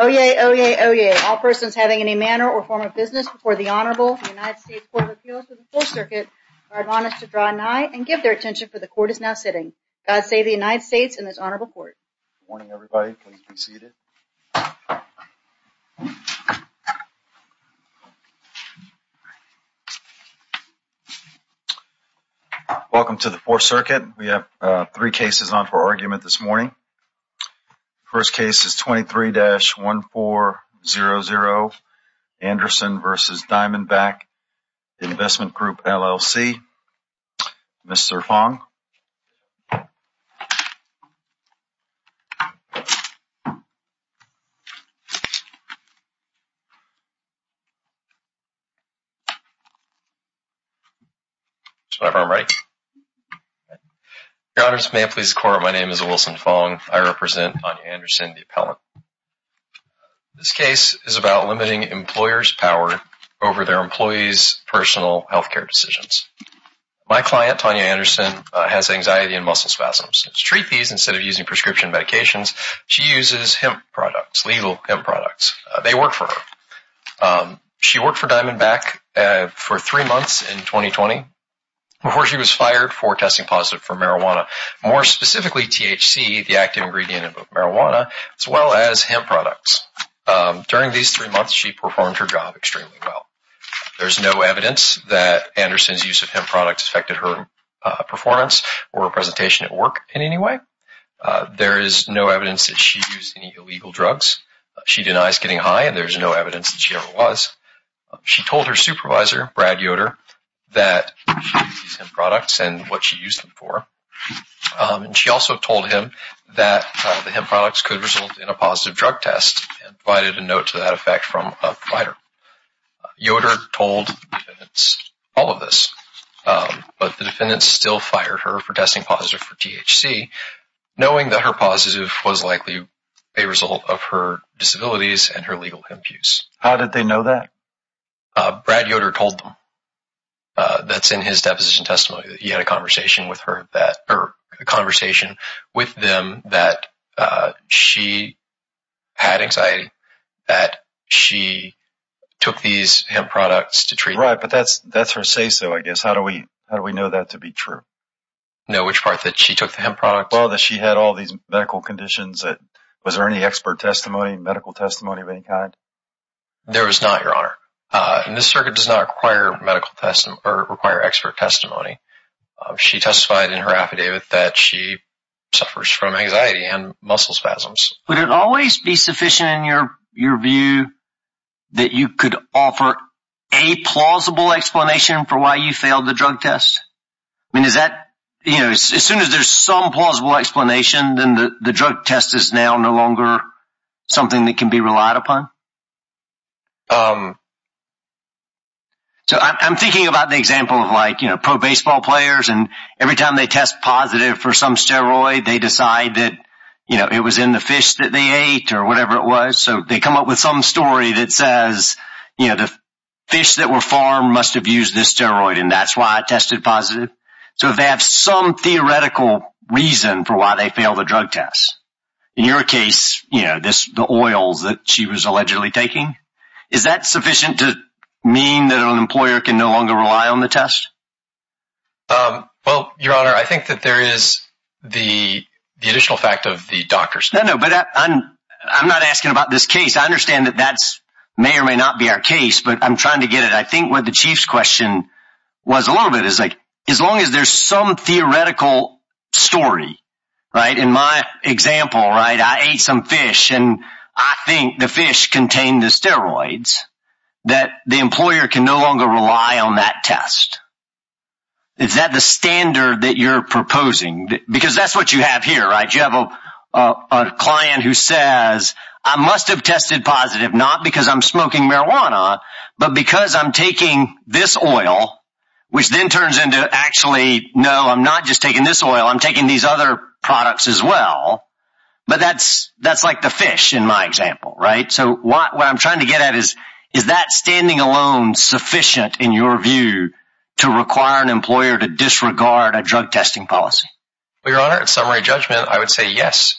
Oyez! Oyez! Oyez! All persons having any manner or form of business before the Honorable United States Court of Appeals of the Fourth Circuit are admonished to draw nigh and give their attention, for the Court is now sitting. God save the United States and this Honorable Court. Good morning, everybody. Please be seated. Welcome to the Fourth Circuit. We have three cases on for argument this morning. First case is 23-1400, Anderson v. Diamondback Investment Group, LLC. Mr. Fong. Mr. Fong. Whenever I'm ready. Your Honor, may it please the Court, my name is Wilson Fong. I represent Tanya Anderson, the appellant. This case is about limiting employers' power over their employees' personal health care decisions. My client, Tanya Anderson, has anxiety and muscle spasms. To treat these, instead of using prescription medications, she uses hemp products, legal hemp products. They work for her. She worked for Diamondback for three months in 2020 before she was fired for testing positive for marijuana, more specifically THC, the active ingredient of marijuana, as well as hemp products. During these three months, she performed her job extremely well. There's no evidence that Anderson's use of hemp products affected her performance or presentation at work in any way. There is no evidence that she used any illegal drugs. She denies getting high, and there's no evidence that she ever was. She told her supervisor, Brad Yoder, that she used hemp products and what she used them for. She also told him that the hemp products could result in a positive drug test and provided a note to that effect from a provider. Yoder told the defendants all of this, but the defendants still fired her for testing positive for THC, knowing that her positive was likely a result of her disabilities and her legal hemp use. How did they know that? Brad Yoder told them. That's in his deposition testimony. He had a conversation with them that she had anxiety, that she took these hemp products to treatment. Right, but that's her say-so, I guess. How do we know that to be true? Know which part? That she took the hemp products? Well, that she had all these medical conditions. Was there any expert testimony, medical testimony of any kind? There was not, Your Honor. This circuit does not require expert testimony. She testified in her affidavit that she suffers from anxiety and muscle spasms. Would it always be sufficient in your view that you could offer a plausible explanation for why you failed the drug test? As soon as there's some plausible explanation, then the drug test is now no longer something that can be relied upon? I'm thinking about the example of pro baseball players, and every time they test positive for some steroid, they decide that it was in the fish that they ate or whatever it was. So they come up with some story that says the fish that were farmed must have used this steroid, and that's why it tested positive. So if they have some theoretical reason for why they failed the drug test, in your case, the oils that she was allegedly taking, is that sufficient to mean that an employer can no longer rely on the test? Well, Your Honor, I think that there is the additional fact of the doctors. No, no, but I'm not asking about this case. I understand that that may or may not be our case, but I'm trying to get it. I think what the chief's question was a little bit is like, as long as there's some theoretical story, right? In my example, right, I ate some fish and I think the fish contained the steroids that the employer can no longer rely on that test. Is that the standard that you're proposing? Because that's what you have here, right? You have a client who says, I must have tested positive, not because I'm smoking marijuana, but because I'm taking this oil, which then turns into actually, no, I'm not just taking this oil. I'm taking these other products as well. But that's that's like the fish in my example, right? So what I'm trying to get at is, is that standing alone sufficient in your view to require an employer to disregard a drug testing policy? Well, Your Honor, in summary judgment, I would say yes,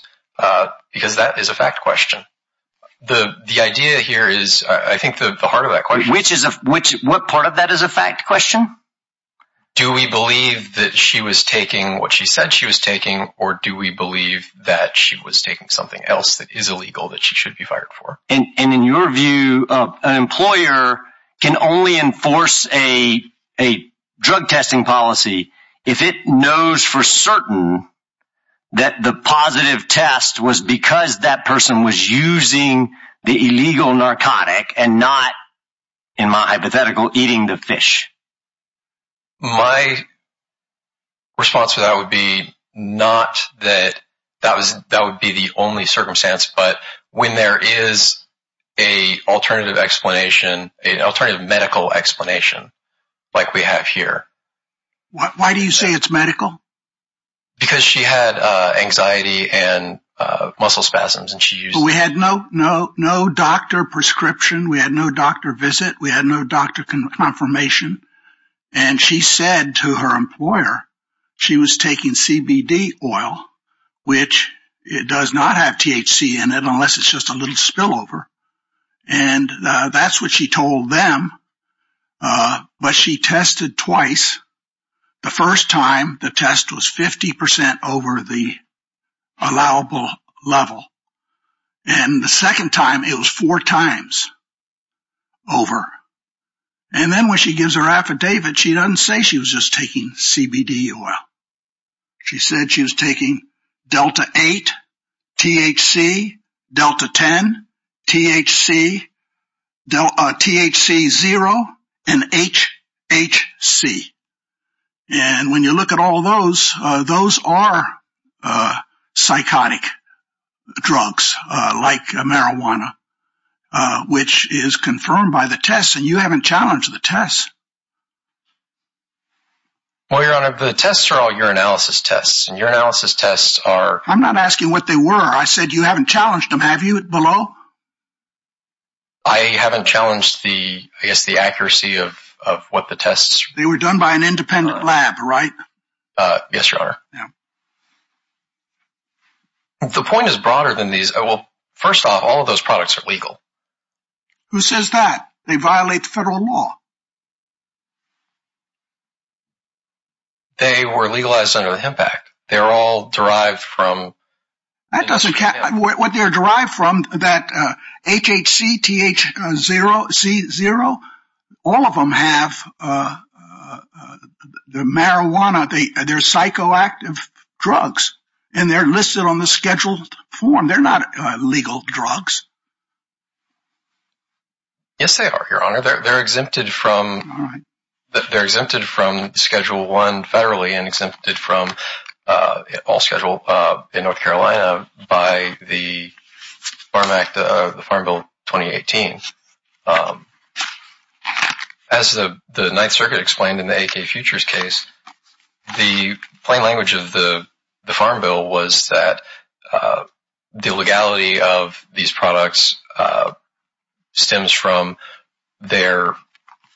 because that is a fact question. The idea here is I think the heart of that question. Which is what part of that is a fact question? Do we believe that she was taking what she said she was taking, or do we believe that she was taking something else that is illegal that she should be fired for? And in your view, an employer can only enforce a a drug testing policy if it knows for certain that the positive test was because that person was using the illegal narcotic and not, in my hypothetical, eating the fish. My response to that would be not that that was that would be the only circumstance, but when there is a alternative explanation, an alternative medical explanation like we have here. Why do you say it's medical? Because she had anxiety and muscle spasms and she used... No doctor prescription. We had no doctor visit. We had no doctor confirmation. And she said to her employer she was taking CBD oil, which it does not have THC in it unless it's just a little spillover. And that's what she told them. But she tested twice. The first time the test was 50% over the allowable level. And the second time it was four times over. And then when she gives her affidavit, she doesn't say she was just taking CBD oil. She said she was taking Delta 8, THC, Delta 10, THC, THC0, and HHC. And when you look at all those, those are psychotic drugs like marijuana, which is confirmed by the tests. And you haven't challenged the tests. Well, Your Honor, the tests are all urinalysis tests. And urinalysis tests are... I'm not asking what they were. I said you haven't challenged them. Have you, below? I haven't challenged the, I guess, the accuracy of what the tests... They were done by an independent lab, right? Yes, Your Honor. The point is broader than these. Well, first off, all of those products are legal. Who says that? They violate the federal law. They were legalized under the Hemp Act. They're all derived from... That doesn't count. What they're derived from, that HHC, THC0, all of them have the marijuana. They're psychoactive drugs, and they're listed on the schedule form. They're not legal drugs. They're exempted from Schedule 1 federally and exempted from all schedule in North Carolina by the Farm Act, the Farm Bill 2018. As the Ninth Circuit explained in the A.K. Futures case, the plain language of the Farm Bill was that the legality of these products stems from their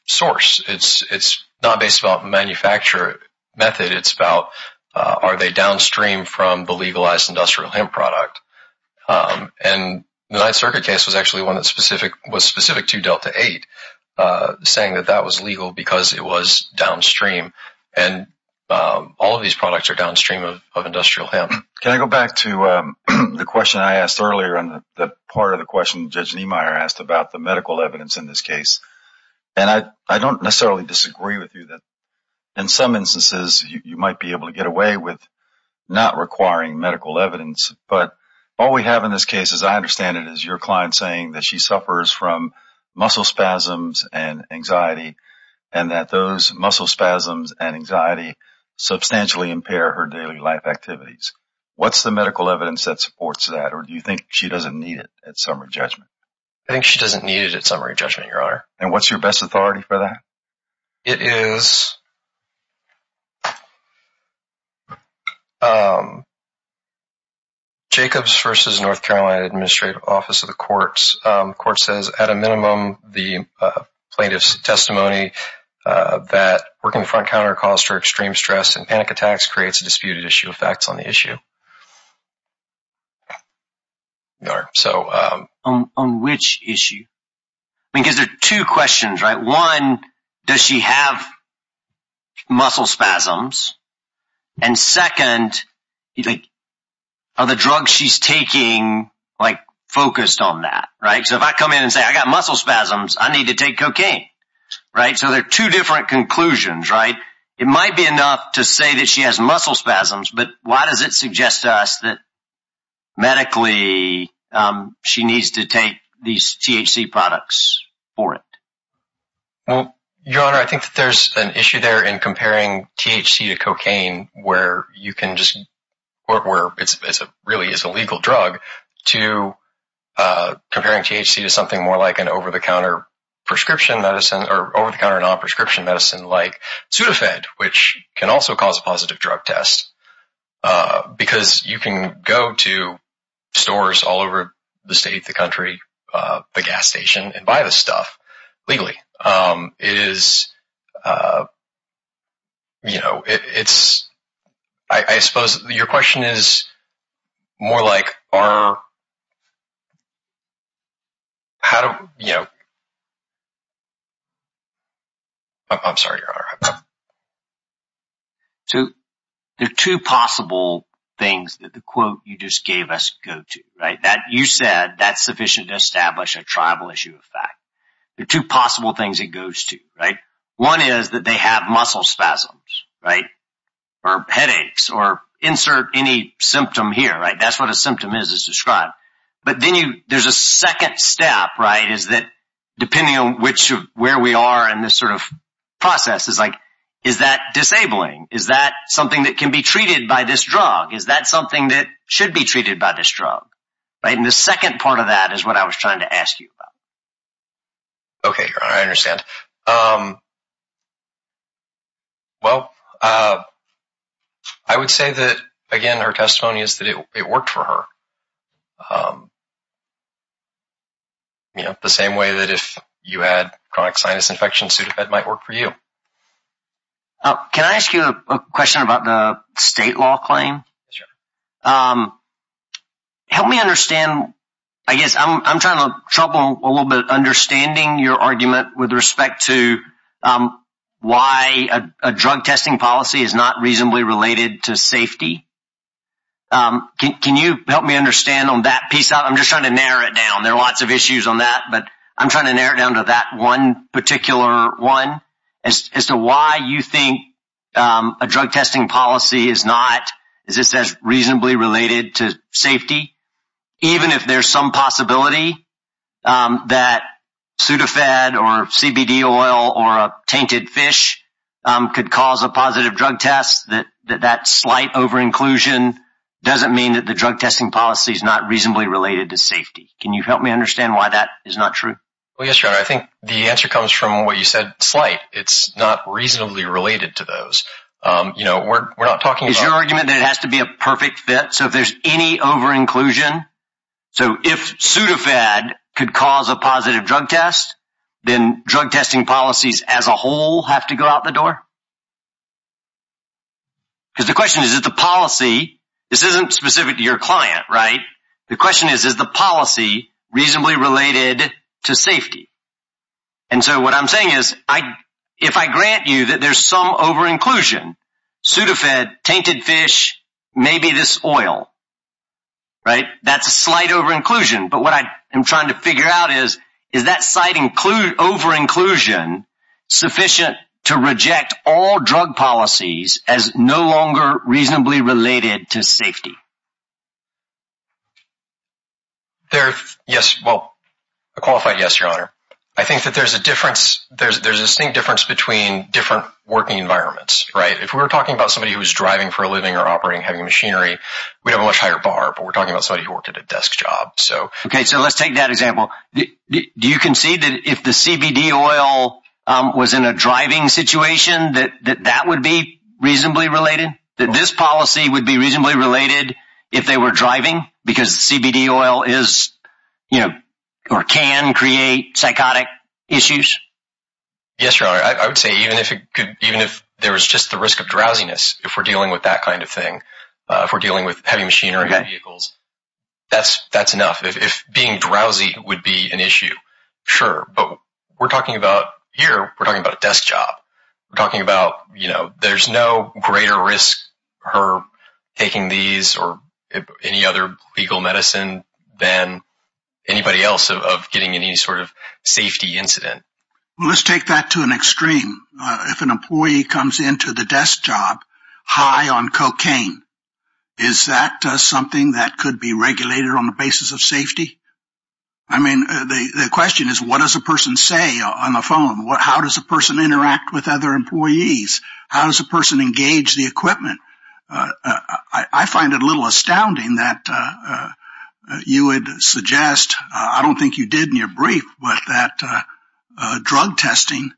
source. It's not based on a manufacturer method. It's about are they downstream from the legalized industrial hemp product. And the Ninth Circuit case was actually one that was specific to Delta 8, saying that that was legal because it was downstream. And all of these products are downstream of industrial hemp. Can I go back to the question I asked earlier and the part of the question Judge Niemeyer asked about the medical evidence in this case? And I don't necessarily disagree with you that in some instances you might be able to get away with not requiring medical evidence. But all we have in this case, as I understand it, is your client saying that she suffers from muscle spasms and anxiety and that those muscle spasms and anxiety substantially impair her daily life activities. What's the medical evidence that supports that? Or do you think she doesn't need it at summary judgment? I think she doesn't need it at summary judgment, Your Honor. And what's your best authority for that? It is Jacobs v. North Carolina Administrative Office of the Courts. The court says at a minimum the plaintiff's testimony that working front counter caused her extreme stress and panic attacks creates a disputed issue of facts on the issue. On which issue? Because there are two questions, right? One, does she have muscle spasms? And second, are the drugs she's taking like focused on that, right? So if I come in and say I got muscle spasms, I need to take cocaine, right? So there are two different conclusions, right? It might be enough to say that she has muscle spasms, but why does it suggest to us that medically she needs to take these THC products for it? Well, Your Honor, I think that there's an issue there in comparing THC to cocaine, where it really is a legal drug, to comparing THC to something more like an over-the-counter non-prescription medicine like Sudafed, which can also cause a positive drug test. Because you can go to stores all over the state, the country, the gas station, and buy this stuff legally. It is – I suppose your question is more like are – how do – I'm sorry, Your Honor. So there are two possible things that the quote you just gave us go to, right? You said that's sufficient to establish a tribal issue of fact. There are two possible things it goes to, right? One is that they have muscle spasms, right, or headaches, or insert any symptom here, right? That's what a symptom is, is described. But then you – there's a second step, right, is that depending on which – where we are in this sort of process is like is that disabling? Is that something that can be treated by this drug? Is that something that should be treated by this drug, right? And the second part of that is what I was trying to ask you about. Okay, Your Honor, I understand. Well, I would say that, again, her testimony is that it worked for her, you know, the same way that if you had chronic sinus infection, Sudafed might work for you. Can I ask you a question about the state law claim? Sure. Help me understand. I guess I'm trying to trouble a little bit understanding your argument with respect to why a drug testing policy is not reasonably related to safety. Can you help me understand on that piece? I'm just trying to narrow it down. There are lots of issues on that, but I'm trying to narrow it down to that one particular one. As to why you think a drug testing policy is not, as it says, reasonably related to safety, even if there's some possibility that Sudafed or CBD oil or a tainted fish could cause a positive drug test, that that slight overinclusion doesn't mean that the drug testing policy is not reasonably related to safety. Can you help me understand why that is not true? Well, yes, Your Honor, I think the answer comes from what you said, slight. It's not reasonably related to those. You know, we're not talking about… Is your argument that it has to be a perfect fit, so if there's any overinclusion, so if Sudafed could cause a positive drug test, then drug testing policies as a whole have to go out the door? Because the question is, is the policy… This isn't specific to your client, right? The question is, is the policy reasonably related to safety? And so what I'm saying is, if I grant you that there's some overinclusion, Sudafed, tainted fish, maybe this oil, right, that's a slight overinclusion. But what I'm trying to figure out is, is that slight overinclusion sufficient to reject all drug policies as no longer reasonably related to safety? Yes, well, a qualified yes, Your Honor. I think that there's a distinct difference between different working environments, right? If we were talking about somebody who was driving for a living or operating heavy machinery, we'd have a much higher bar, but we're talking about somebody who worked at a desk job. Okay, so let's take that example. Do you concede that if the CBD oil was in a driving situation, that that would be reasonably related? That this policy would be reasonably related if they were driving because CBD oil is, you know, or can create psychotic issues? Yes, Your Honor. I would say even if it could, even if there was just the risk of drowsiness, if we're dealing with that kind of thing, if we're dealing with heavy machinery and vehicles, that's enough. If being drowsy would be an issue, sure. But we're talking about here, we're talking about a desk job. We're talking about, you know, there's no greater risk for taking these or any other legal medicine than anybody else of getting any sort of safety incident. Well, let's take that to an extreme. If an employee comes into the desk job high on cocaine, is that something that could be regulated on the basis of safety? I mean, the question is, what does a person say on the phone? How does a person interact with other employees? How does a person engage the equipment? I find it a little astounding that you would suggest, I don't think you did in your brief, but that drug testing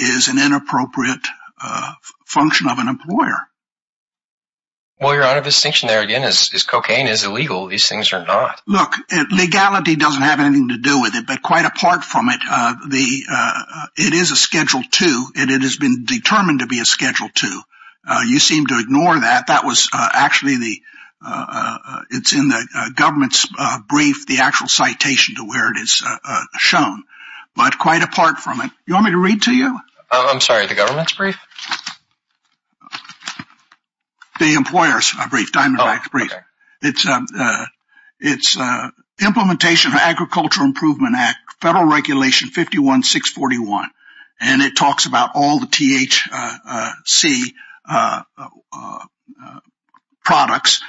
is an inappropriate function of an employer. Well, Your Honor, the distinction there again is cocaine is illegal. These things are not. Look, legality doesn't have anything to do with it. But quite apart from it, it is a Schedule II and it has been determined to be a Schedule II. You seem to ignore that. That was actually the – it's in the government's brief, the actual citation to where it is shown. But quite apart from it. You want me to read to you? I'm sorry, the government's brief? The employer's brief, Diamondback's brief. Oh, okay. It's Implementation of Agricultural Improvement Act, Federal Regulation 51641. And it talks about all the THC products,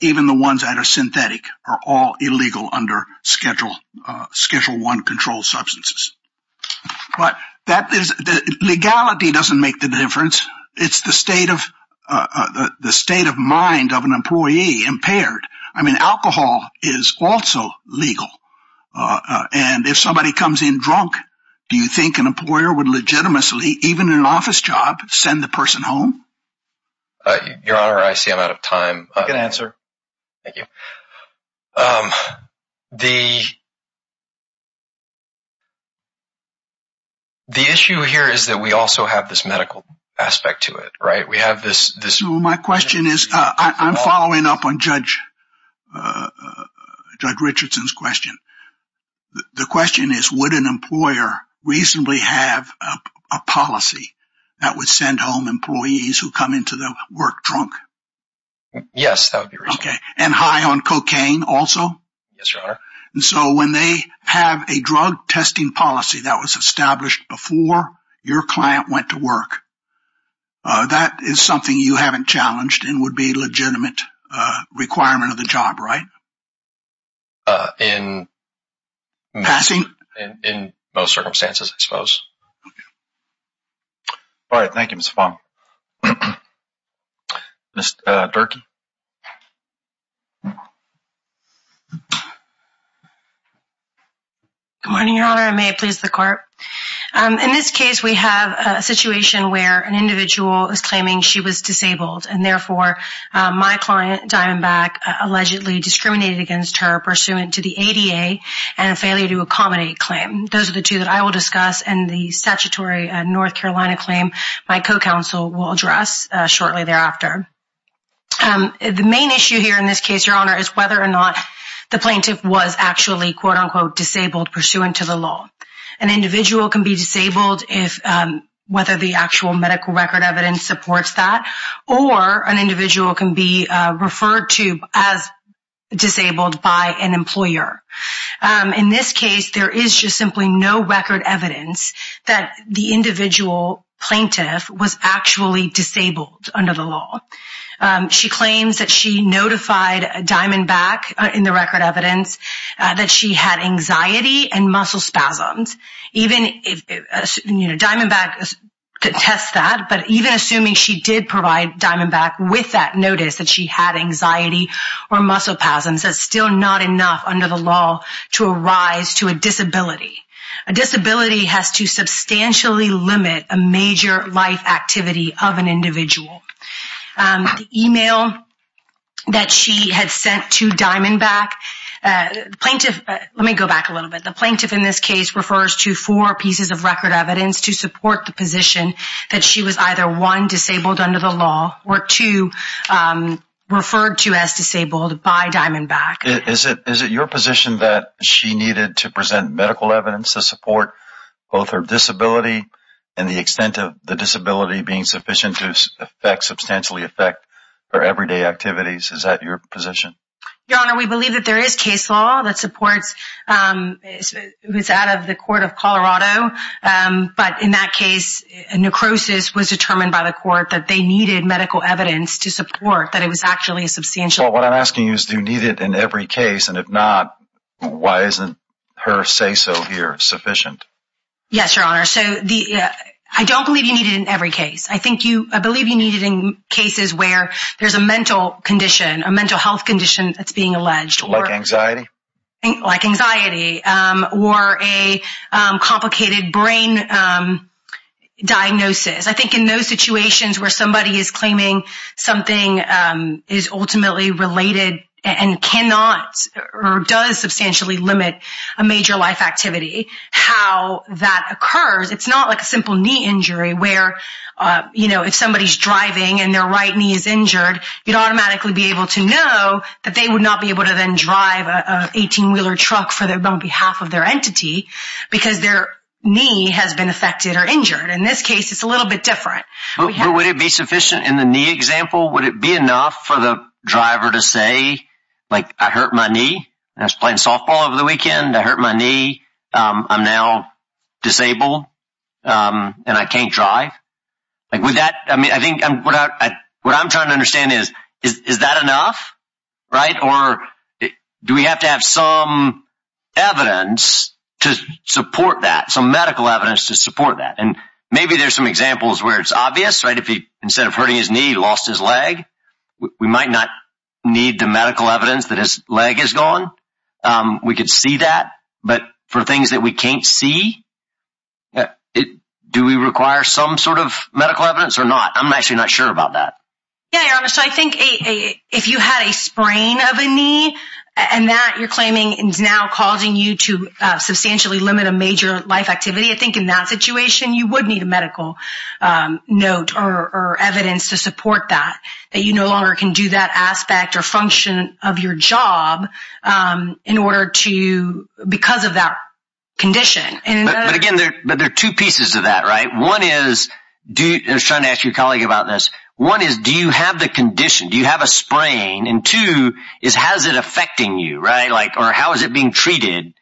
even the ones that are synthetic, are all illegal under Schedule I controlled substances. But that is – legality doesn't make the difference. It's the state of mind of an employee impaired. I mean, alcohol is also legal. And if somebody comes in drunk, do you think an employer would legitimately, even in an office job, send the person home? Your Honor, I see I'm out of time. You can answer. Thank you. The issue here is that we also have this medical aspect to it, right? We have this – My question is – I'm following up on Judge Richardson's question. The question is, would an employer reasonably have a policy that would send home employees who come into the work drunk? Yes, that would be reasonable. Okay. And high on cocaine also? Yes, Your Honor. And so when they have a drug testing policy that was established before your client went to work, that is something you haven't challenged and would be a legitimate requirement of the job, right? In – Passing? In most circumstances, I suppose. All right. Thank you, Mr. Fong. Ms. Durkee? Good morning, Your Honor, and may it please the Court. In this case, we have a situation where an individual is claiming she was disabled, and therefore my client, Diamondback, allegedly discriminated against her pursuant to the ADA and a failure to accommodate claim. Those are the two that I will discuss. And the statutory North Carolina claim, my co-counsel will address shortly thereafter. The main issue here in this case, Your Honor, is whether or not the plaintiff was actually, quote-unquote, disabled pursuant to the law. An individual can be disabled if – whether the actual medical record evidence supports that, or an individual can be referred to as disabled by an employer. In this case, there is just simply no record evidence that the individual plaintiff was actually disabled under the law. She claims that she notified Diamondback in the record evidence that she had anxiety and muscle spasms. Even if – you know, Diamondback contests that, but even assuming she did provide Diamondback with that notice that she had anxiety or muscle spasms, that's still not enough under the law to arise to a disability. A disability has to substantially limit a major life activity of an individual. The email that she had sent to Diamondback – the plaintiff – let me go back a little bit. The plaintiff in this case refers to four pieces of record evidence to support the position that she was either, one, disabled under the law, or two, referred to as disabled by Diamondback. Is it your position that she needed to present medical evidence to support both her disability and the extent of the disability being sufficient to substantially affect her everyday activities? Is that your position? Your Honor, we believe that there is case law that supports – it's out of the court of Colorado. But in that case, necrosis was determined by the court that they needed medical evidence to support that it was actually a substantial – Well, what I'm asking you is do you need it in every case, and if not, why isn't her say-so here sufficient? Yes, Your Honor. So the – I don't believe you need it in every case. I think you – I believe you need it in cases where there's a mental condition, a mental health condition that's being alleged. Like anxiety? Like anxiety or a complicated brain diagnosis. I think in those situations where somebody is claiming something is ultimately related and cannot or does substantially limit a major life activity, how that occurs. It's not like a simple knee injury where, you know, if somebody's driving and their right knee is injured, you'd automatically be able to know that they would not be able to then drive an 18-wheeler truck on behalf of their entity because their knee has been affected or injured. In this case, it's a little bit different. But would it be sufficient in the knee example? Would it be enough for the driver to say, like, I hurt my knee? I was playing softball over the weekend. I hurt my knee. I'm now disabled, and I can't drive. I think what I'm trying to understand is, is that enough, right? Or do we have to have some evidence to support that, some medical evidence to support that? And maybe there's some examples where it's obvious, right? If he, instead of hurting his knee, lost his leg, we might not need the medical evidence that his leg is gone. We could see that. But for things that we can't see, do we require some sort of medical evidence or not? I'm actually not sure about that. Yeah, I think if you had a sprain of a knee and that you're claiming is now causing you to substantially limit a major life activity, I think in that situation, you would need a medical note or evidence to support that, that you no longer can do that aspect or function of your job in order to, because of that condition. But again, there are two pieces to that, right? One is, I was trying to ask your colleague about this. One is, do you have the condition? Do you have a sprain? And two is, how is it affecting you, right? Or how is it being treated?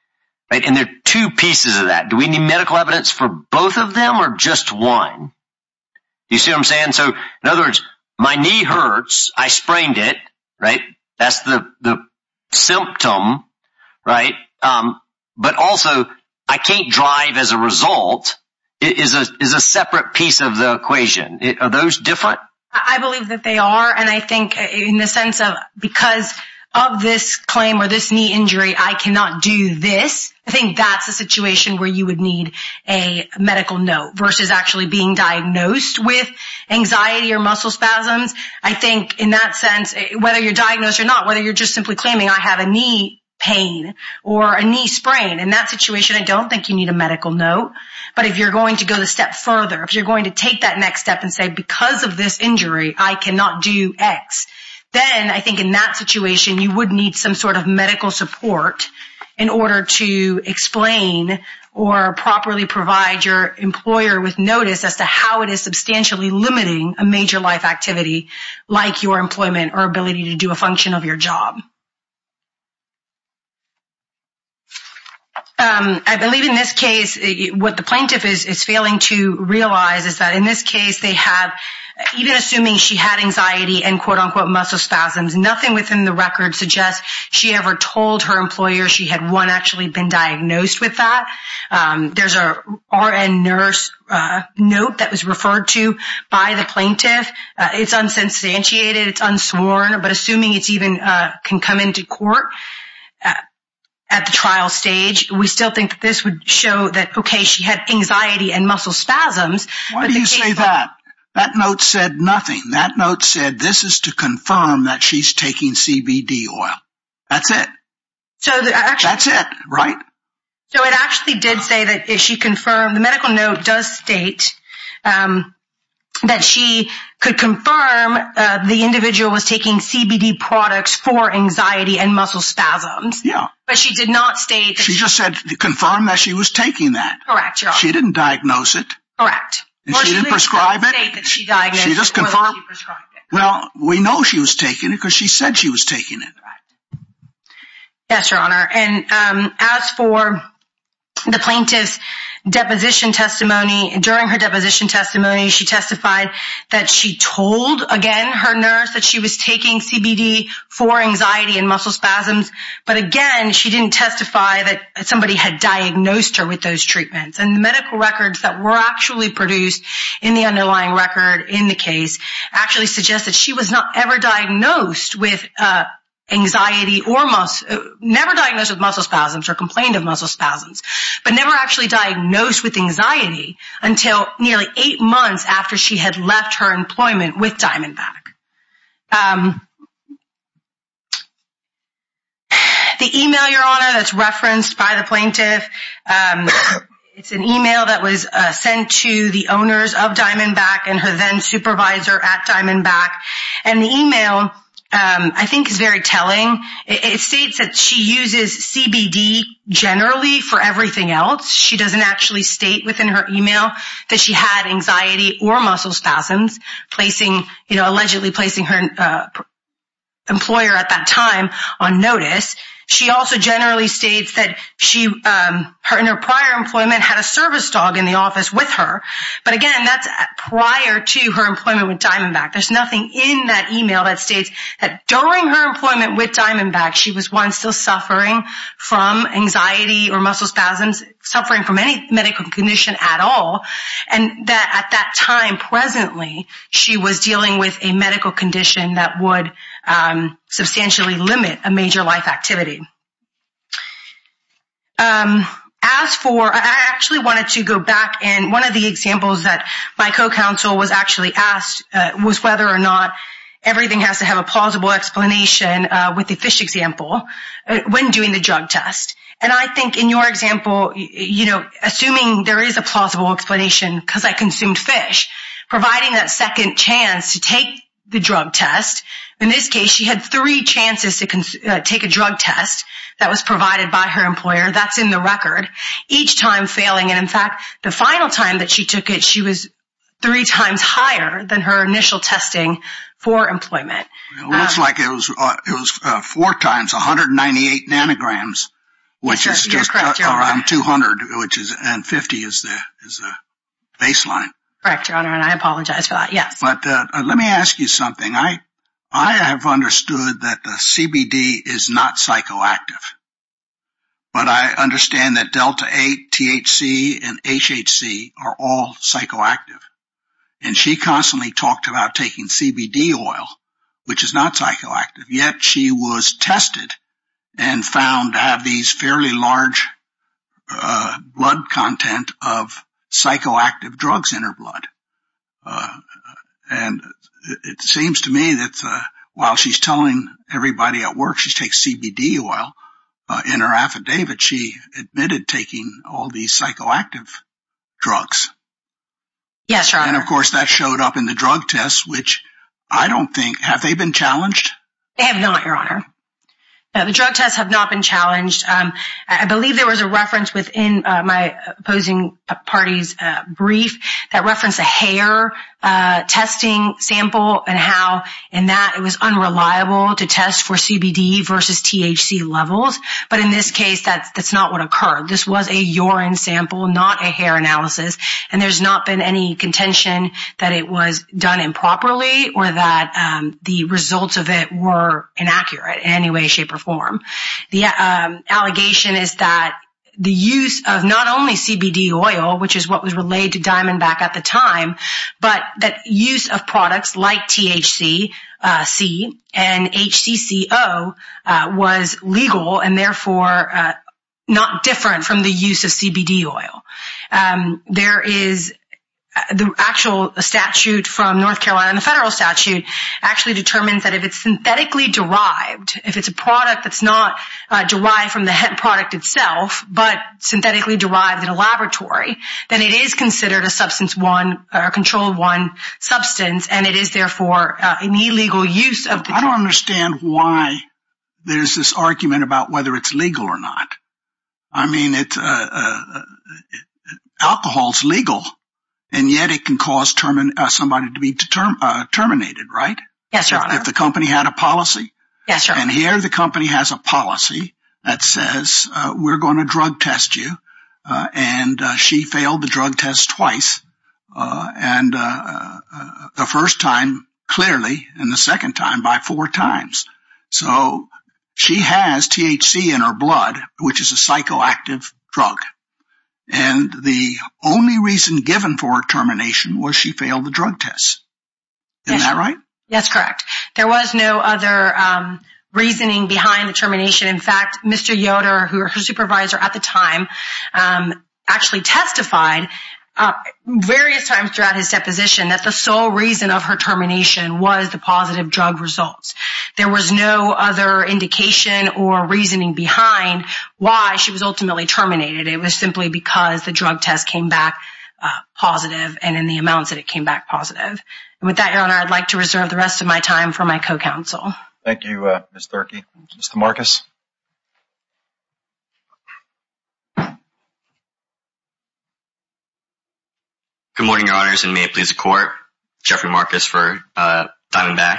And there are two pieces of that. Do we need medical evidence for both of them or just one? Do you see what I'm saying? So in other words, my knee hurts. I sprained it, right? That's the symptom, right? But also, I can't drive as a result is a separate piece of the equation. Are those different? I believe that they are. And I think in the sense of because of this claim or this knee injury, I cannot do this. I think that's a situation where you would need a medical note versus actually being diagnosed with anxiety or muscle spasms. I think in that sense, whether you're diagnosed or not, whether you're just simply claiming I have a knee pain or a knee sprain, in that situation, I don't think you need a medical note. But if you're going to go a step further, if you're going to take that next step and say, because of this injury, I cannot do X, then I think in that situation, you would need some sort of medical support in order to explain or properly provide your employer with notice as to how it is substantially limiting a major life activity like your employment or ability to do a function of your job. I believe in this case, what the plaintiff is failing to realize is that in this case, even assuming she had anxiety and, quote, unquote, muscle spasms, nothing within the record suggests she ever told her employer she had one actually been diagnosed with that. There's a RN nurse note that was referred to by the plaintiff. It's unsubstantiated. It's unsworn. But assuming it even can come into court at the trial stage, we still think that this would show that, okay, she had anxiety and muscle spasms. Why do you say that? That note said nothing. That note said this is to confirm that she's taking CBD oil. That's it. That's it, right? So it actually did say that if she confirmed, the medical note does state that she could confirm the individual was taking CBD products for anxiety and muscle spasms. Yeah. But she did not state. She just said confirm that she was taking that. Correct. She didn't diagnose it. Correct. She didn't prescribe it? She just confirmed it. Well, we know she was taking it because she said she was taking it. Yes, Your Honor. And as for the plaintiff's deposition testimony, during her deposition testimony, she testified that she told, again, her nurse that she was taking CBD for anxiety and muscle spasms. But, again, she didn't testify that somebody had diagnosed her with those treatments. And the medical records that were actually produced in the underlying record in the case actually suggest that she was not ever diagnosed with anxiety or never diagnosed with muscle spasms or complained of muscle spasms, but never actually diagnosed with anxiety until nearly eight months after she had left her employment with Diamondback. The e-mail, Your Honor, that's referenced by the plaintiff, it's an e-mail that was sent to the owners of Diamondback and her then supervisor at Diamondback. And the e-mail, I think, is very telling. It states that she uses CBD generally for everything else. She doesn't actually state within her e-mail that she had anxiety or muscle spasms, allegedly placing her employer at that time on notice. She also generally states that in her prior employment had a service dog in the office with her. But, again, that's prior to her employment with Diamondback. There's nothing in that e-mail that states that during her employment with Diamondback, she was, one, still suffering from anxiety or muscle spasms, suffering from any medical condition at all, and that at that time presently she was dealing with a medical condition that would substantially limit a major life activity. As for, I actually wanted to go back, and one of the examples that my co-counsel was actually asked was whether or not everything has to have a plausible explanation with the fish example when doing the drug test. And I think in your example, you know, assuming there is a plausible explanation because I consumed fish, providing that second chance to take the drug test, in this case she had three chances to take a drug test that was provided by her employer. That's in the record. And, in fact, the final time that she took it, she was three times higher than her initial testing for employment. It looks like it was four times, 198 nanograms, which is around 200, and 50 is the baseline. Correct, Your Honor, and I apologize for that, yes. But let me ask you something. I have understood that the CBD is not psychoactive, but I understand that Delta-8, THC, and HHC are all psychoactive, and she constantly talked about taking CBD oil, which is not psychoactive, yet she was tested and found to have these fairly large blood content of psychoactive drugs in her blood. And it seems to me that while she's telling everybody at work she takes CBD oil in her affidavit, she admitted taking all these psychoactive drugs. Yes, Your Honor. And, of course, that showed up in the drug test, which I don't think, have they been challenged? They have not, Your Honor. The drug tests have not been challenged. I believe there was a reference within my opposing party's brief that referenced a hair testing sample and how in that it was unreliable to test for CBD versus THC levels, but in this case that's not what occurred. This was a urine sample, not a hair analysis, and there's not been any contention that it was done improperly or that the results of it were inaccurate in any way, shape, or form. The allegation is that the use of not only CBD oil, which is what was relayed to Diamondback at the time, but that use of products like THC and HCCO was legal and, therefore, not different from the use of CBD oil. The actual statute from North Carolina, the federal statute, actually determines that if it's synthetically derived, if it's a product that's not derived from the product itself, but synthetically derived in a laboratory, then it is considered a substance one, a control one substance, and it is, therefore, an illegal use of the… I don't understand why there's this argument about whether it's legal or not. I mean, alcohol's legal, and yet it can cause somebody to be terminated, right? Yes, Your Honor. If the company had a policy? Yes, Your Honor. And here the company has a policy that says, we're going to drug test you, and she failed the drug test twice, and the first time, clearly, and the second time by four times. So, she has THC in her blood, which is a psychoactive drug, and the only reason given for her termination was she failed the drug test. Yes, Your Honor. Isn't that right? Yes, correct. There was no other reasoning behind the termination. In fact, Mr. Yoder, who was her supervisor at the time, actually testified various times throughout his deposition that the sole reason of her termination was the positive drug results. There was no other indication or reasoning behind why she was ultimately terminated. It was simply because the drug test came back positive and in the amounts that it came back positive. And with that, Your Honor, I'd like to reserve the rest of my time for my co-counsel. Thank you, Ms. Thurkey. Mr. Marcus. Good morning, Your Honors, and may it please the Court. Jeffrey Marcus for Diamondback.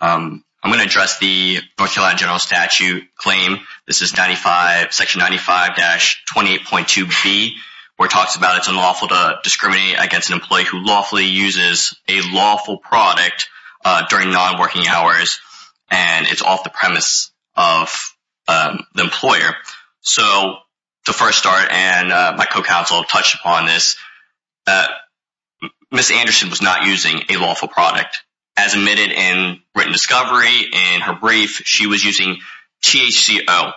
I'm going to address the North Carolina General Statute claim. This is section 95-28.2b, where it talks about it's unlawful to discriminate against an employee who lawfully uses a lawful product during nonworking hours, and it's off the premise of the employer. So to first start, and my co-counsel touched upon this, Ms. Anderson was not using a lawful product. As admitted in written discovery in her brief, she was using THCO,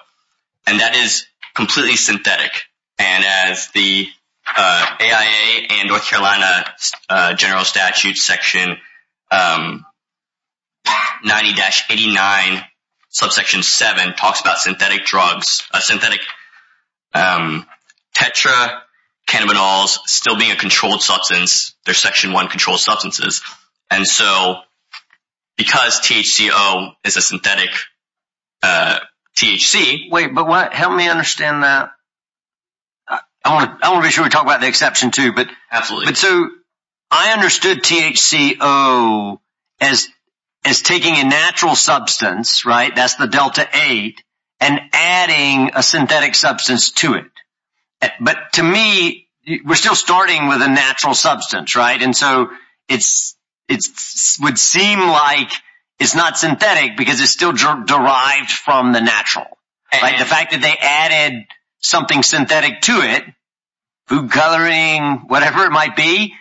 and that is completely synthetic. And as the AIA and North Carolina General Statute section 90-89, subsection 7, talks about synthetic drugs, synthetic tetra cannabinols still being a controlled substance. They're section 1 controlled substances. And so because THCO is a synthetic THC… Wait, but help me understand that. I want to be sure we talk about the exception, too. Absolutely. But so I understood THCO as taking a natural substance, right, that's the delta-8, and adding a synthetic substance to it. But to me, we're still starting with a natural substance, right? And so it would seem like it's not synthetic because it's still derived from the natural, right? The fact that they added something synthetic to it, food coloring, whatever it might be,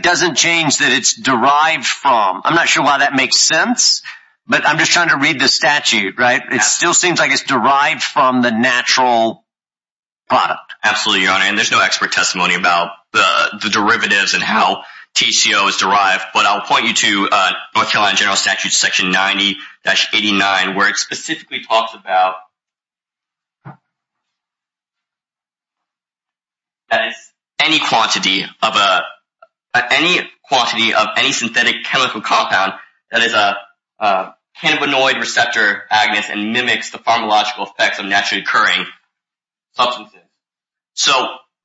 doesn't change that it's derived from. I'm not sure why that makes sense, but I'm just trying to read the statute, right? It still seems like it's derived from the natural product. Absolutely, Your Honor, and there's no expert testimony about the derivatives and how THCO is derived. But I'll point you to North Carolina General Statute section 90-89, where it specifically talks about any quantity of any synthetic chemical compound that is a cannabinoid receptor agonist and mimics the pharmacological effects of naturally occurring substances.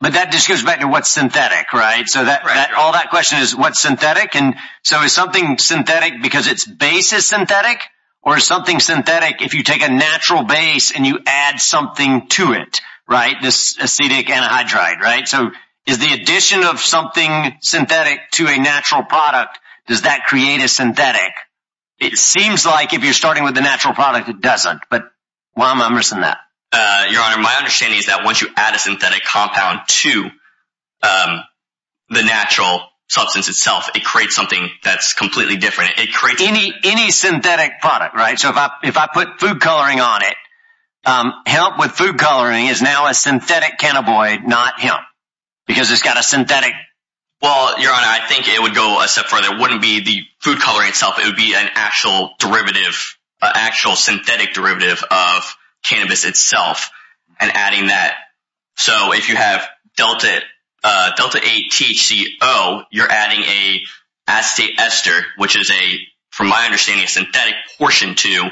But that just goes back to what's synthetic, right? So all that question is, what's synthetic? So is something synthetic because its base is synthetic? Or is something synthetic if you take a natural base and you add something to it, right? This acetic anhydride, right? So is the addition of something synthetic to a natural product, does that create a synthetic? It seems like if you're starting with a natural product, it doesn't, but why am I missing that? Your Honor, my understanding is that once you add a synthetic compound to the natural substance itself, it creates something that's completely different. Any synthetic product, right? So if I put food coloring on it, hemp with food coloring is now a synthetic cannabinoid, not hemp, because it's got a synthetic… Well, Your Honor, I think it would go a step further. It wouldn't be the food coloring itself, it would be an actual derivative, an actual synthetic derivative of cannabis itself and adding that. So if you have Delta-8-THC-O, you're adding an acetate ester, which is a, from my understanding, a synthetic portion to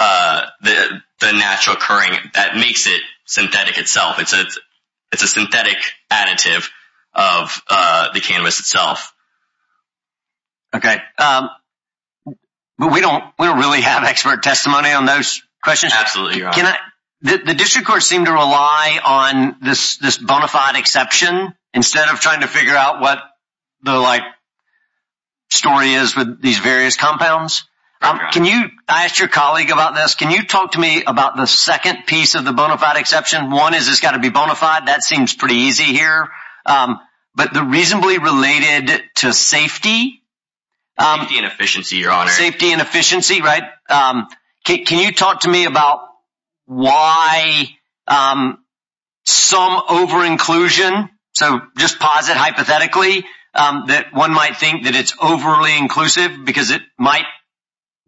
the natural occurring, that makes it synthetic itself. It's a synthetic additive of the cannabis itself. Okay. We don't really have expert testimony on those questions. Absolutely, Your Honor. The district courts seem to rely on this bona fide exception instead of trying to figure out what the story is with these various compounds. I asked your colleague about this. Can you talk to me about the second piece of the bona fide exception? One is it's got to be bona fide. That seems pretty easy here. But the reasonably related to safety… Safety and efficiency, Your Honor. Safety and efficiency, right? Can you talk to me about why some over-inclusion… So just posit hypothetically that one might think that it's overly inclusive because it might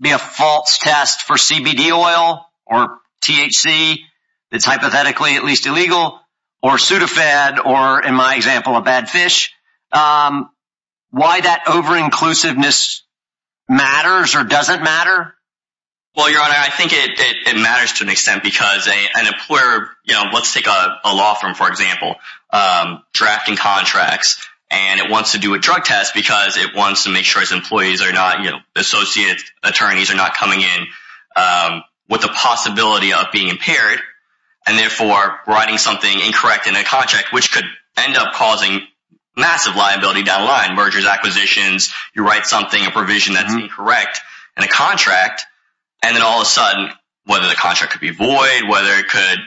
be a false test for CBD oil or THC that's hypothetically at least illegal or pseudofed or, in my example, a bad fish. Why that over-inclusiveness matters or doesn't matter? Well, Your Honor, I think it matters to an extent because an employer… because it wants to make sure its employees are not, you know, associate attorneys are not coming in with the possibility of being impaired and, therefore, writing something incorrect in a contract, which could end up causing massive liability down the line, mergers, acquisitions. You write something, a provision that's incorrect in a contract, and then all of a sudden, whether the contract could be void, whether it could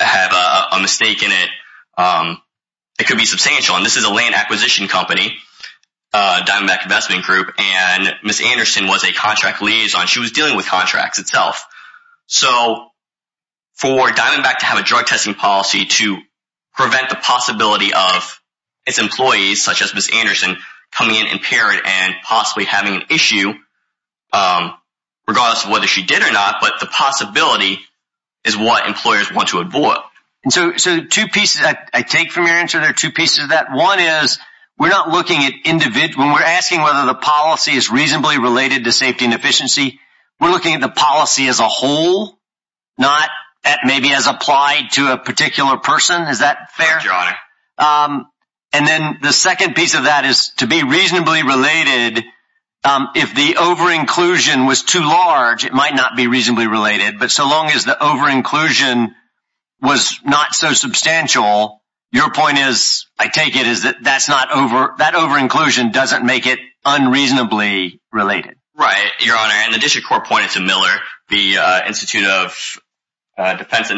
have a mistake in it, it could be substantial. And this is a land acquisition company, Diamondback Investment Group, and Ms. Anderson was a contract liaison. She was dealing with contracts itself. So for Diamondback to have a drug-testing policy to prevent the possibility of its employees, such as Ms. Anderson, coming in impaired and possibly having an issue, regardless of whether she did or not, but the possibility is what employers want to avoid. So two pieces I take from your answer. There are two pieces of that. One is we're not looking at individual… when we're asking whether the policy is reasonably related to safety and efficiency, we're looking at the policy as a whole, not maybe as applied to a particular person. Is that fair? Your Honor. And then the second piece of that is to be reasonably related, if the over-inclusion was too large, it might not be reasonably related. But so long as the over-inclusion was not so substantial, your point is, I take it, is that that over-inclusion doesn't make it unreasonably related. Right. Your Honor, and the district court pointed to Miller, the Institute of Defense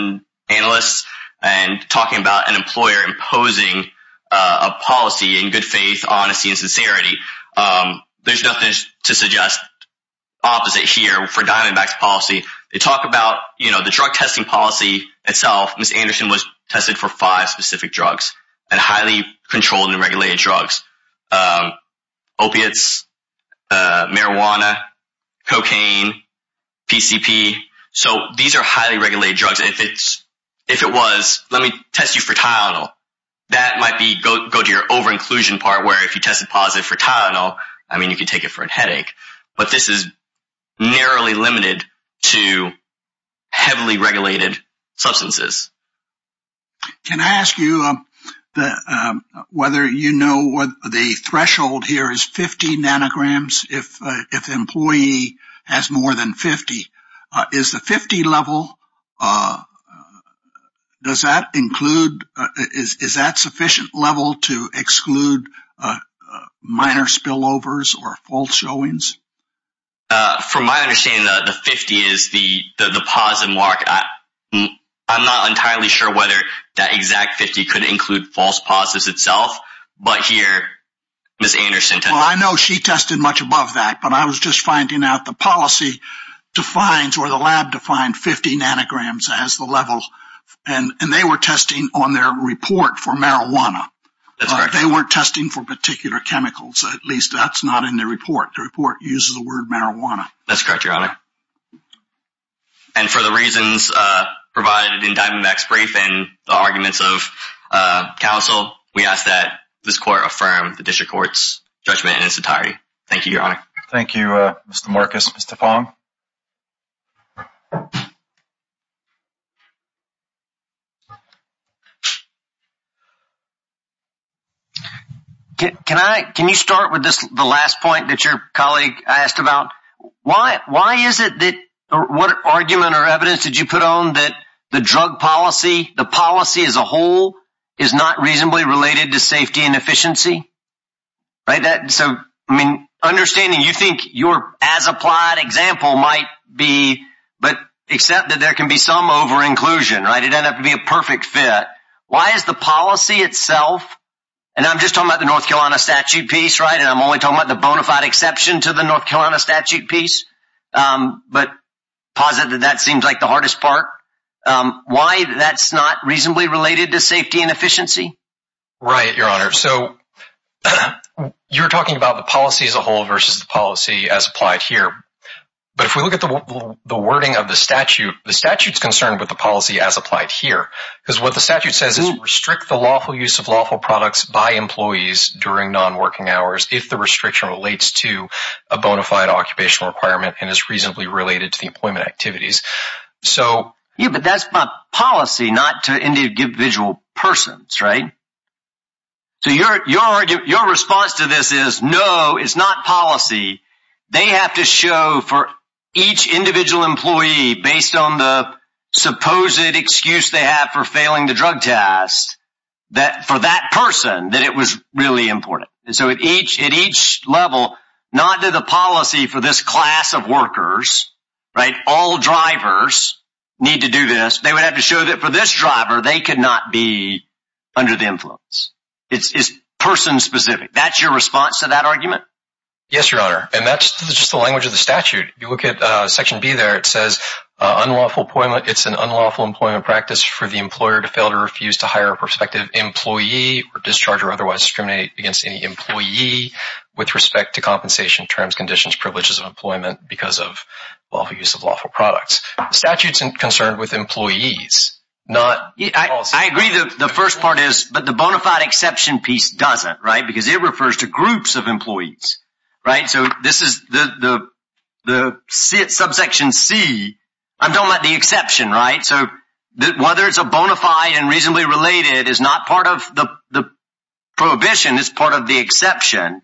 Analysts, and talking about an employer imposing a policy in good faith, honesty, and sincerity. There's nothing to suggest opposite here for Diamondback's policy. They talk about, you know, the drug testing policy itself. Ms. Anderson was tested for five specific drugs, and highly controlled and regulated drugs. Opiates, marijuana, cocaine, PCP. So these are highly regulated drugs. If it was, let me test you for Tylenol. That might go to your over-inclusion part, where if you tested positive for Tylenol, I mean, you could take it for a headache. But this is narrowly limited to heavily regulated substances. Can I ask you whether you know the threshold here is 50 nanograms if the employee has more than 50? Is the 50 level, does that include, is that sufficient level to exclude minor spillovers or false showings? From my understanding, the 50 is the pause and walk. I'm not entirely sure whether that exact 50 could include false pauses itself, but here, Ms. Anderson tested. Well, I know she tested much above that, but I was just finding out the policy defines, or the lab defined, 50 nanograms as the level. And they were testing on their report for marijuana. That's correct. That's correct, Your Honor. And for the reasons provided in Diamondback's brief and the arguments of counsel, we ask that this court affirm the district court's judgment in its entirety. Thank you, Your Honor. Thank you, Mr. Marcus. Mr. Fong? Can I, can you start with the last point that your colleague asked about? Why is it that, what argument or evidence did you put on that the drug policy, the policy as a whole, is not reasonably related to safety and efficiency? So, I mean, understanding you think your as-applied example might be, but accept that there can be some over-inclusion, right? It ended up to be a perfect fit. Why is the policy itself, and I'm just talking about the North Carolina statute piece, right? And I'm only talking about the bona fide exception to the North Carolina statute piece, but posit that that seems like the hardest part. Why that's not reasonably related to safety and efficiency? Right, Your Honor. So, you're talking about the policy as a whole versus the policy as applied here. But if we look at the wording of the statute, the statute's concerned with the policy as applied here. Because what the statute says is restrict the lawful use of lawful products by employees during non-working hours if the restriction relates to a bona fide occupational requirement and is reasonably related to the employment activities. Yeah, but that's by policy, not to individual persons, right? So, your response to this is, no, it's not policy. They have to show for each individual employee, based on the supposed excuse they have for failing the drug test, that for that person, that it was really important. And so at each level, not to the policy for this class of workers, right? All drivers need to do this. They would have to show that for this driver, they could not be under the influence. It's person-specific. That's your response to that argument? Yes, Your Honor. And that's just the language of the statute. If you look at Section B there, it says unlawful employment, it's an unlawful employment practice for the employer to fail to refuse to hire a prospective employee or discharge or otherwise discriminate against any employee with respect to compensation terms, conditions, privileges of employment because of lawful use of lawful products. The statute's concerned with employees, not policy. I agree that the first part is, but the bona fide exception piece doesn't, right? Because it refers to groups of employees, right? So this is the subsection C. I'm talking about the exception, right? So whether it's a bona fide and reasonably related is not part of the prohibition, it's part of the exception,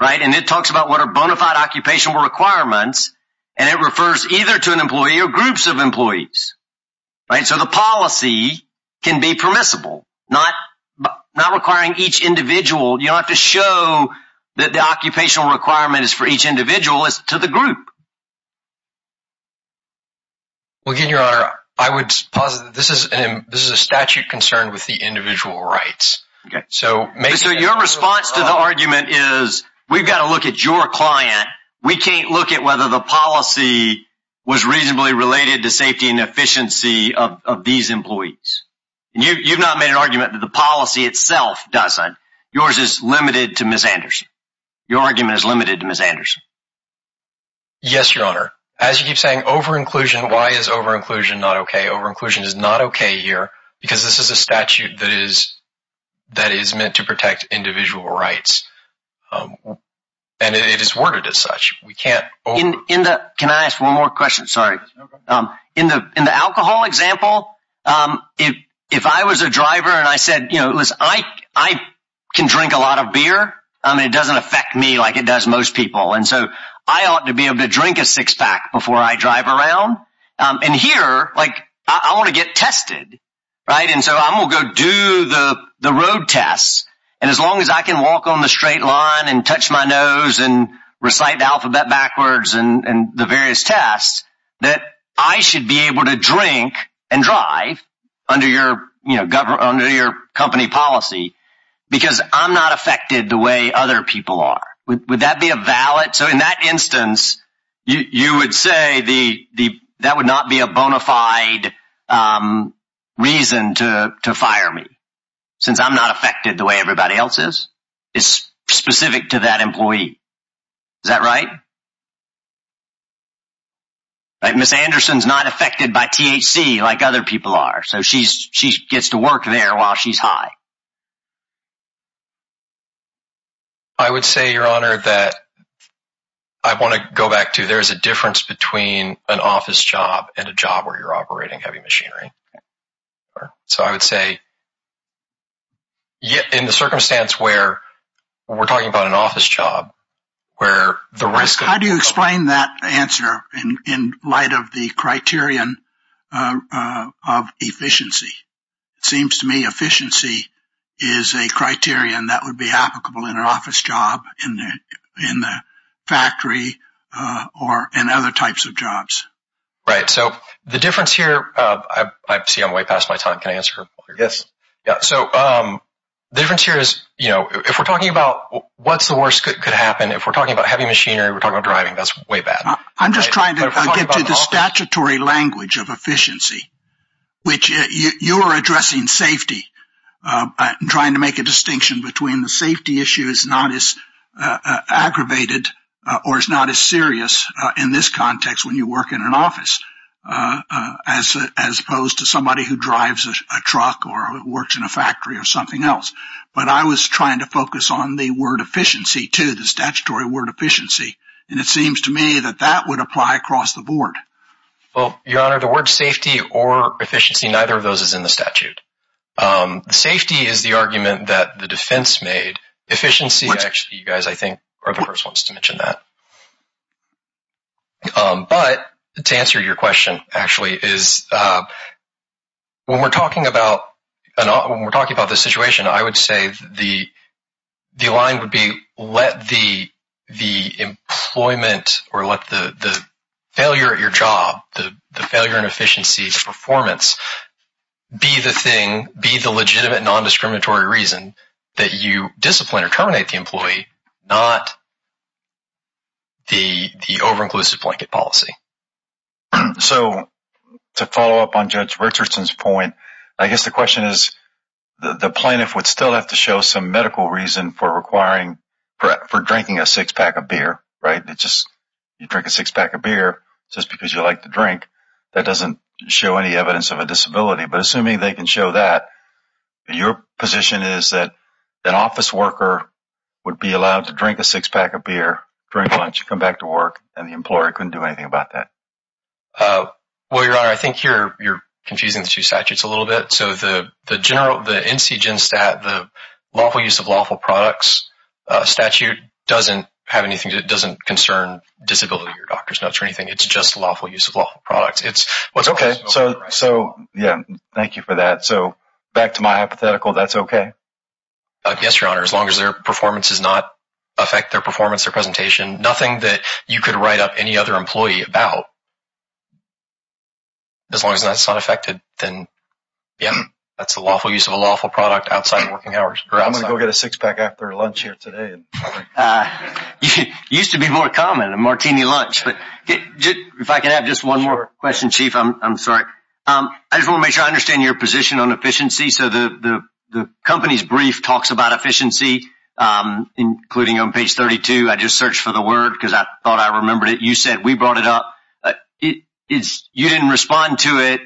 right? And it talks about what are bona fide occupational requirements, and it refers either to an employee or groups of employees, right? So the policy can be permissible, not requiring each individual. You don't have to show that the occupational requirement is for each individual, it's to the group. Well, again, Your Honor, I would posit that this is a statute concerned with the individual rights. So your response to the argument is we've got to look at your client. We can't look at whether the policy was reasonably related to safety and efficiency of these employees. And you've not made an argument that the policy itself doesn't. Yours is limited to Ms. Anderson. Your argument is limited to Ms. Anderson. Yes, Your Honor. As you keep saying, over-inclusion, why is over-inclusion not okay? Over-inclusion is not okay here because this is a statute that is meant to protect individual rights, and it is worded as such. Can I ask one more question? Sorry. In the alcohol example, if I was a driver and I said, you know, listen, I can drink a lot of beer. I mean, it doesn't affect me like it does most people. And so I ought to be able to drink a six-pack before I drive around. And here, like, I want to get tested, right? And so I will go do the road tests. And as long as I can walk on the straight line and touch my nose and recite the alphabet backwards and the various tests, that I should be able to drink and drive under your company policy because I'm not affected the way other people are. Would that be a valid? So in that instance, you would say that would not be a bona fide reason to fire me since I'm not affected the way everybody else is? It's specific to that employee. Is that right? Ms. Anderson's not affected by THC like other people are, so she gets to work there while she's high. I would say, Your Honor, that I want to go back to there is a difference between an office job and a job where you're operating heavy machinery. So I would say in the circumstance where we're talking about an office job, where the risk. How do you explain that answer in light of the criterion of efficiency? It seems to me efficiency is a criterion that would be applicable in an office job, in the factory or in other types of jobs. Right. So the difference here, I see I'm way past my time. Can I answer? Yes. So the difference here is, you know, if we're talking about what's the worst that could happen, if we're talking about heavy machinery, we're talking about driving, that's way bad. I'm just trying to get to the statutory language of efficiency, which you are addressing safety, trying to make a distinction between the safety issue is not as aggravated or is not as serious in this context when you work in an office, as opposed to somebody who drives a truck or works in a factory or something else. But I was trying to focus on the word efficiency to the statutory word efficiency. And it seems to me that that would apply across the board. Well, your honor, the word safety or efficiency, neither of those is in the statute. Safety is the argument that the defense made efficiency. Actually, you guys, I think, are the first ones to mention that. But to answer your question, actually, is when we're talking about when we're talking about this situation, I would say the the line would be let the the employment or let the failure at your job, the failure and efficiency performance be the thing, be the legitimate non-discriminatory reason that you discipline or terminate the employee, not the over-inclusive blanket policy. So to follow up on Judge Richardson's point, I guess the question is the plaintiff would still have to show some medical reason for requiring for drinking a six pack of beer, right? It's just you drink a six pack of beer just because you like to drink. That doesn't show any evidence of a disability. But assuming they can show that, your position is that an office worker would be allowed to drink a six pack of beer during lunch, come back to work, and the employer couldn't do anything about that. Well, your honor, I think here you're confusing the two statutes a little bit. So the general, the NCGIN stat, the lawful use of lawful products statute doesn't have anything. It's just lawful use of lawful products. It's what's okay. So yeah, thank you for that. So back to my hypothetical, that's okay? Yes, your honor. As long as their performance does not affect their performance or presentation, nothing that you could write up any other employee about. As long as that's not affected, then yeah, that's a lawful use of a lawful product outside of working hours. I'm going to go get a six pack after lunch here today. It used to be more common, a martini lunch. If I could have just one more question, Chief, I'm sorry. I just want to make sure I understand your position on efficiency. So the company's brief talks about efficiency, including on page 32. I just searched for the word because I thought I remembered it. You said we brought it up. You didn't respond to it,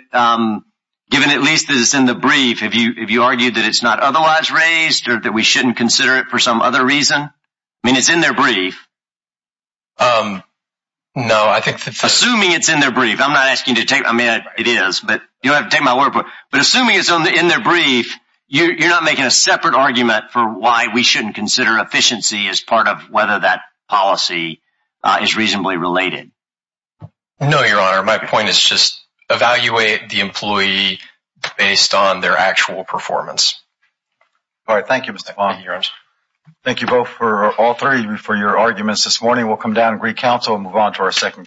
given at least that it's in the brief. Have you argued that it's not otherwise raised or that we shouldn't consider it for some other reason? I mean, it's in their brief. No, I think that's… Assuming it's in their brief. I'm not asking you to take… I mean, it is, but you don't have to take my word for it. But assuming it's in their brief, you're not making a separate argument for why we shouldn't consider efficiency as part of whether that policy is reasonably related? No, your honor. My point is just evaluate the employee based on their actual performance. All right. Thank you, Mr. Fong. Thank you both for all three for your arguments this morning. We'll come down and greet counsel and move on to our second case.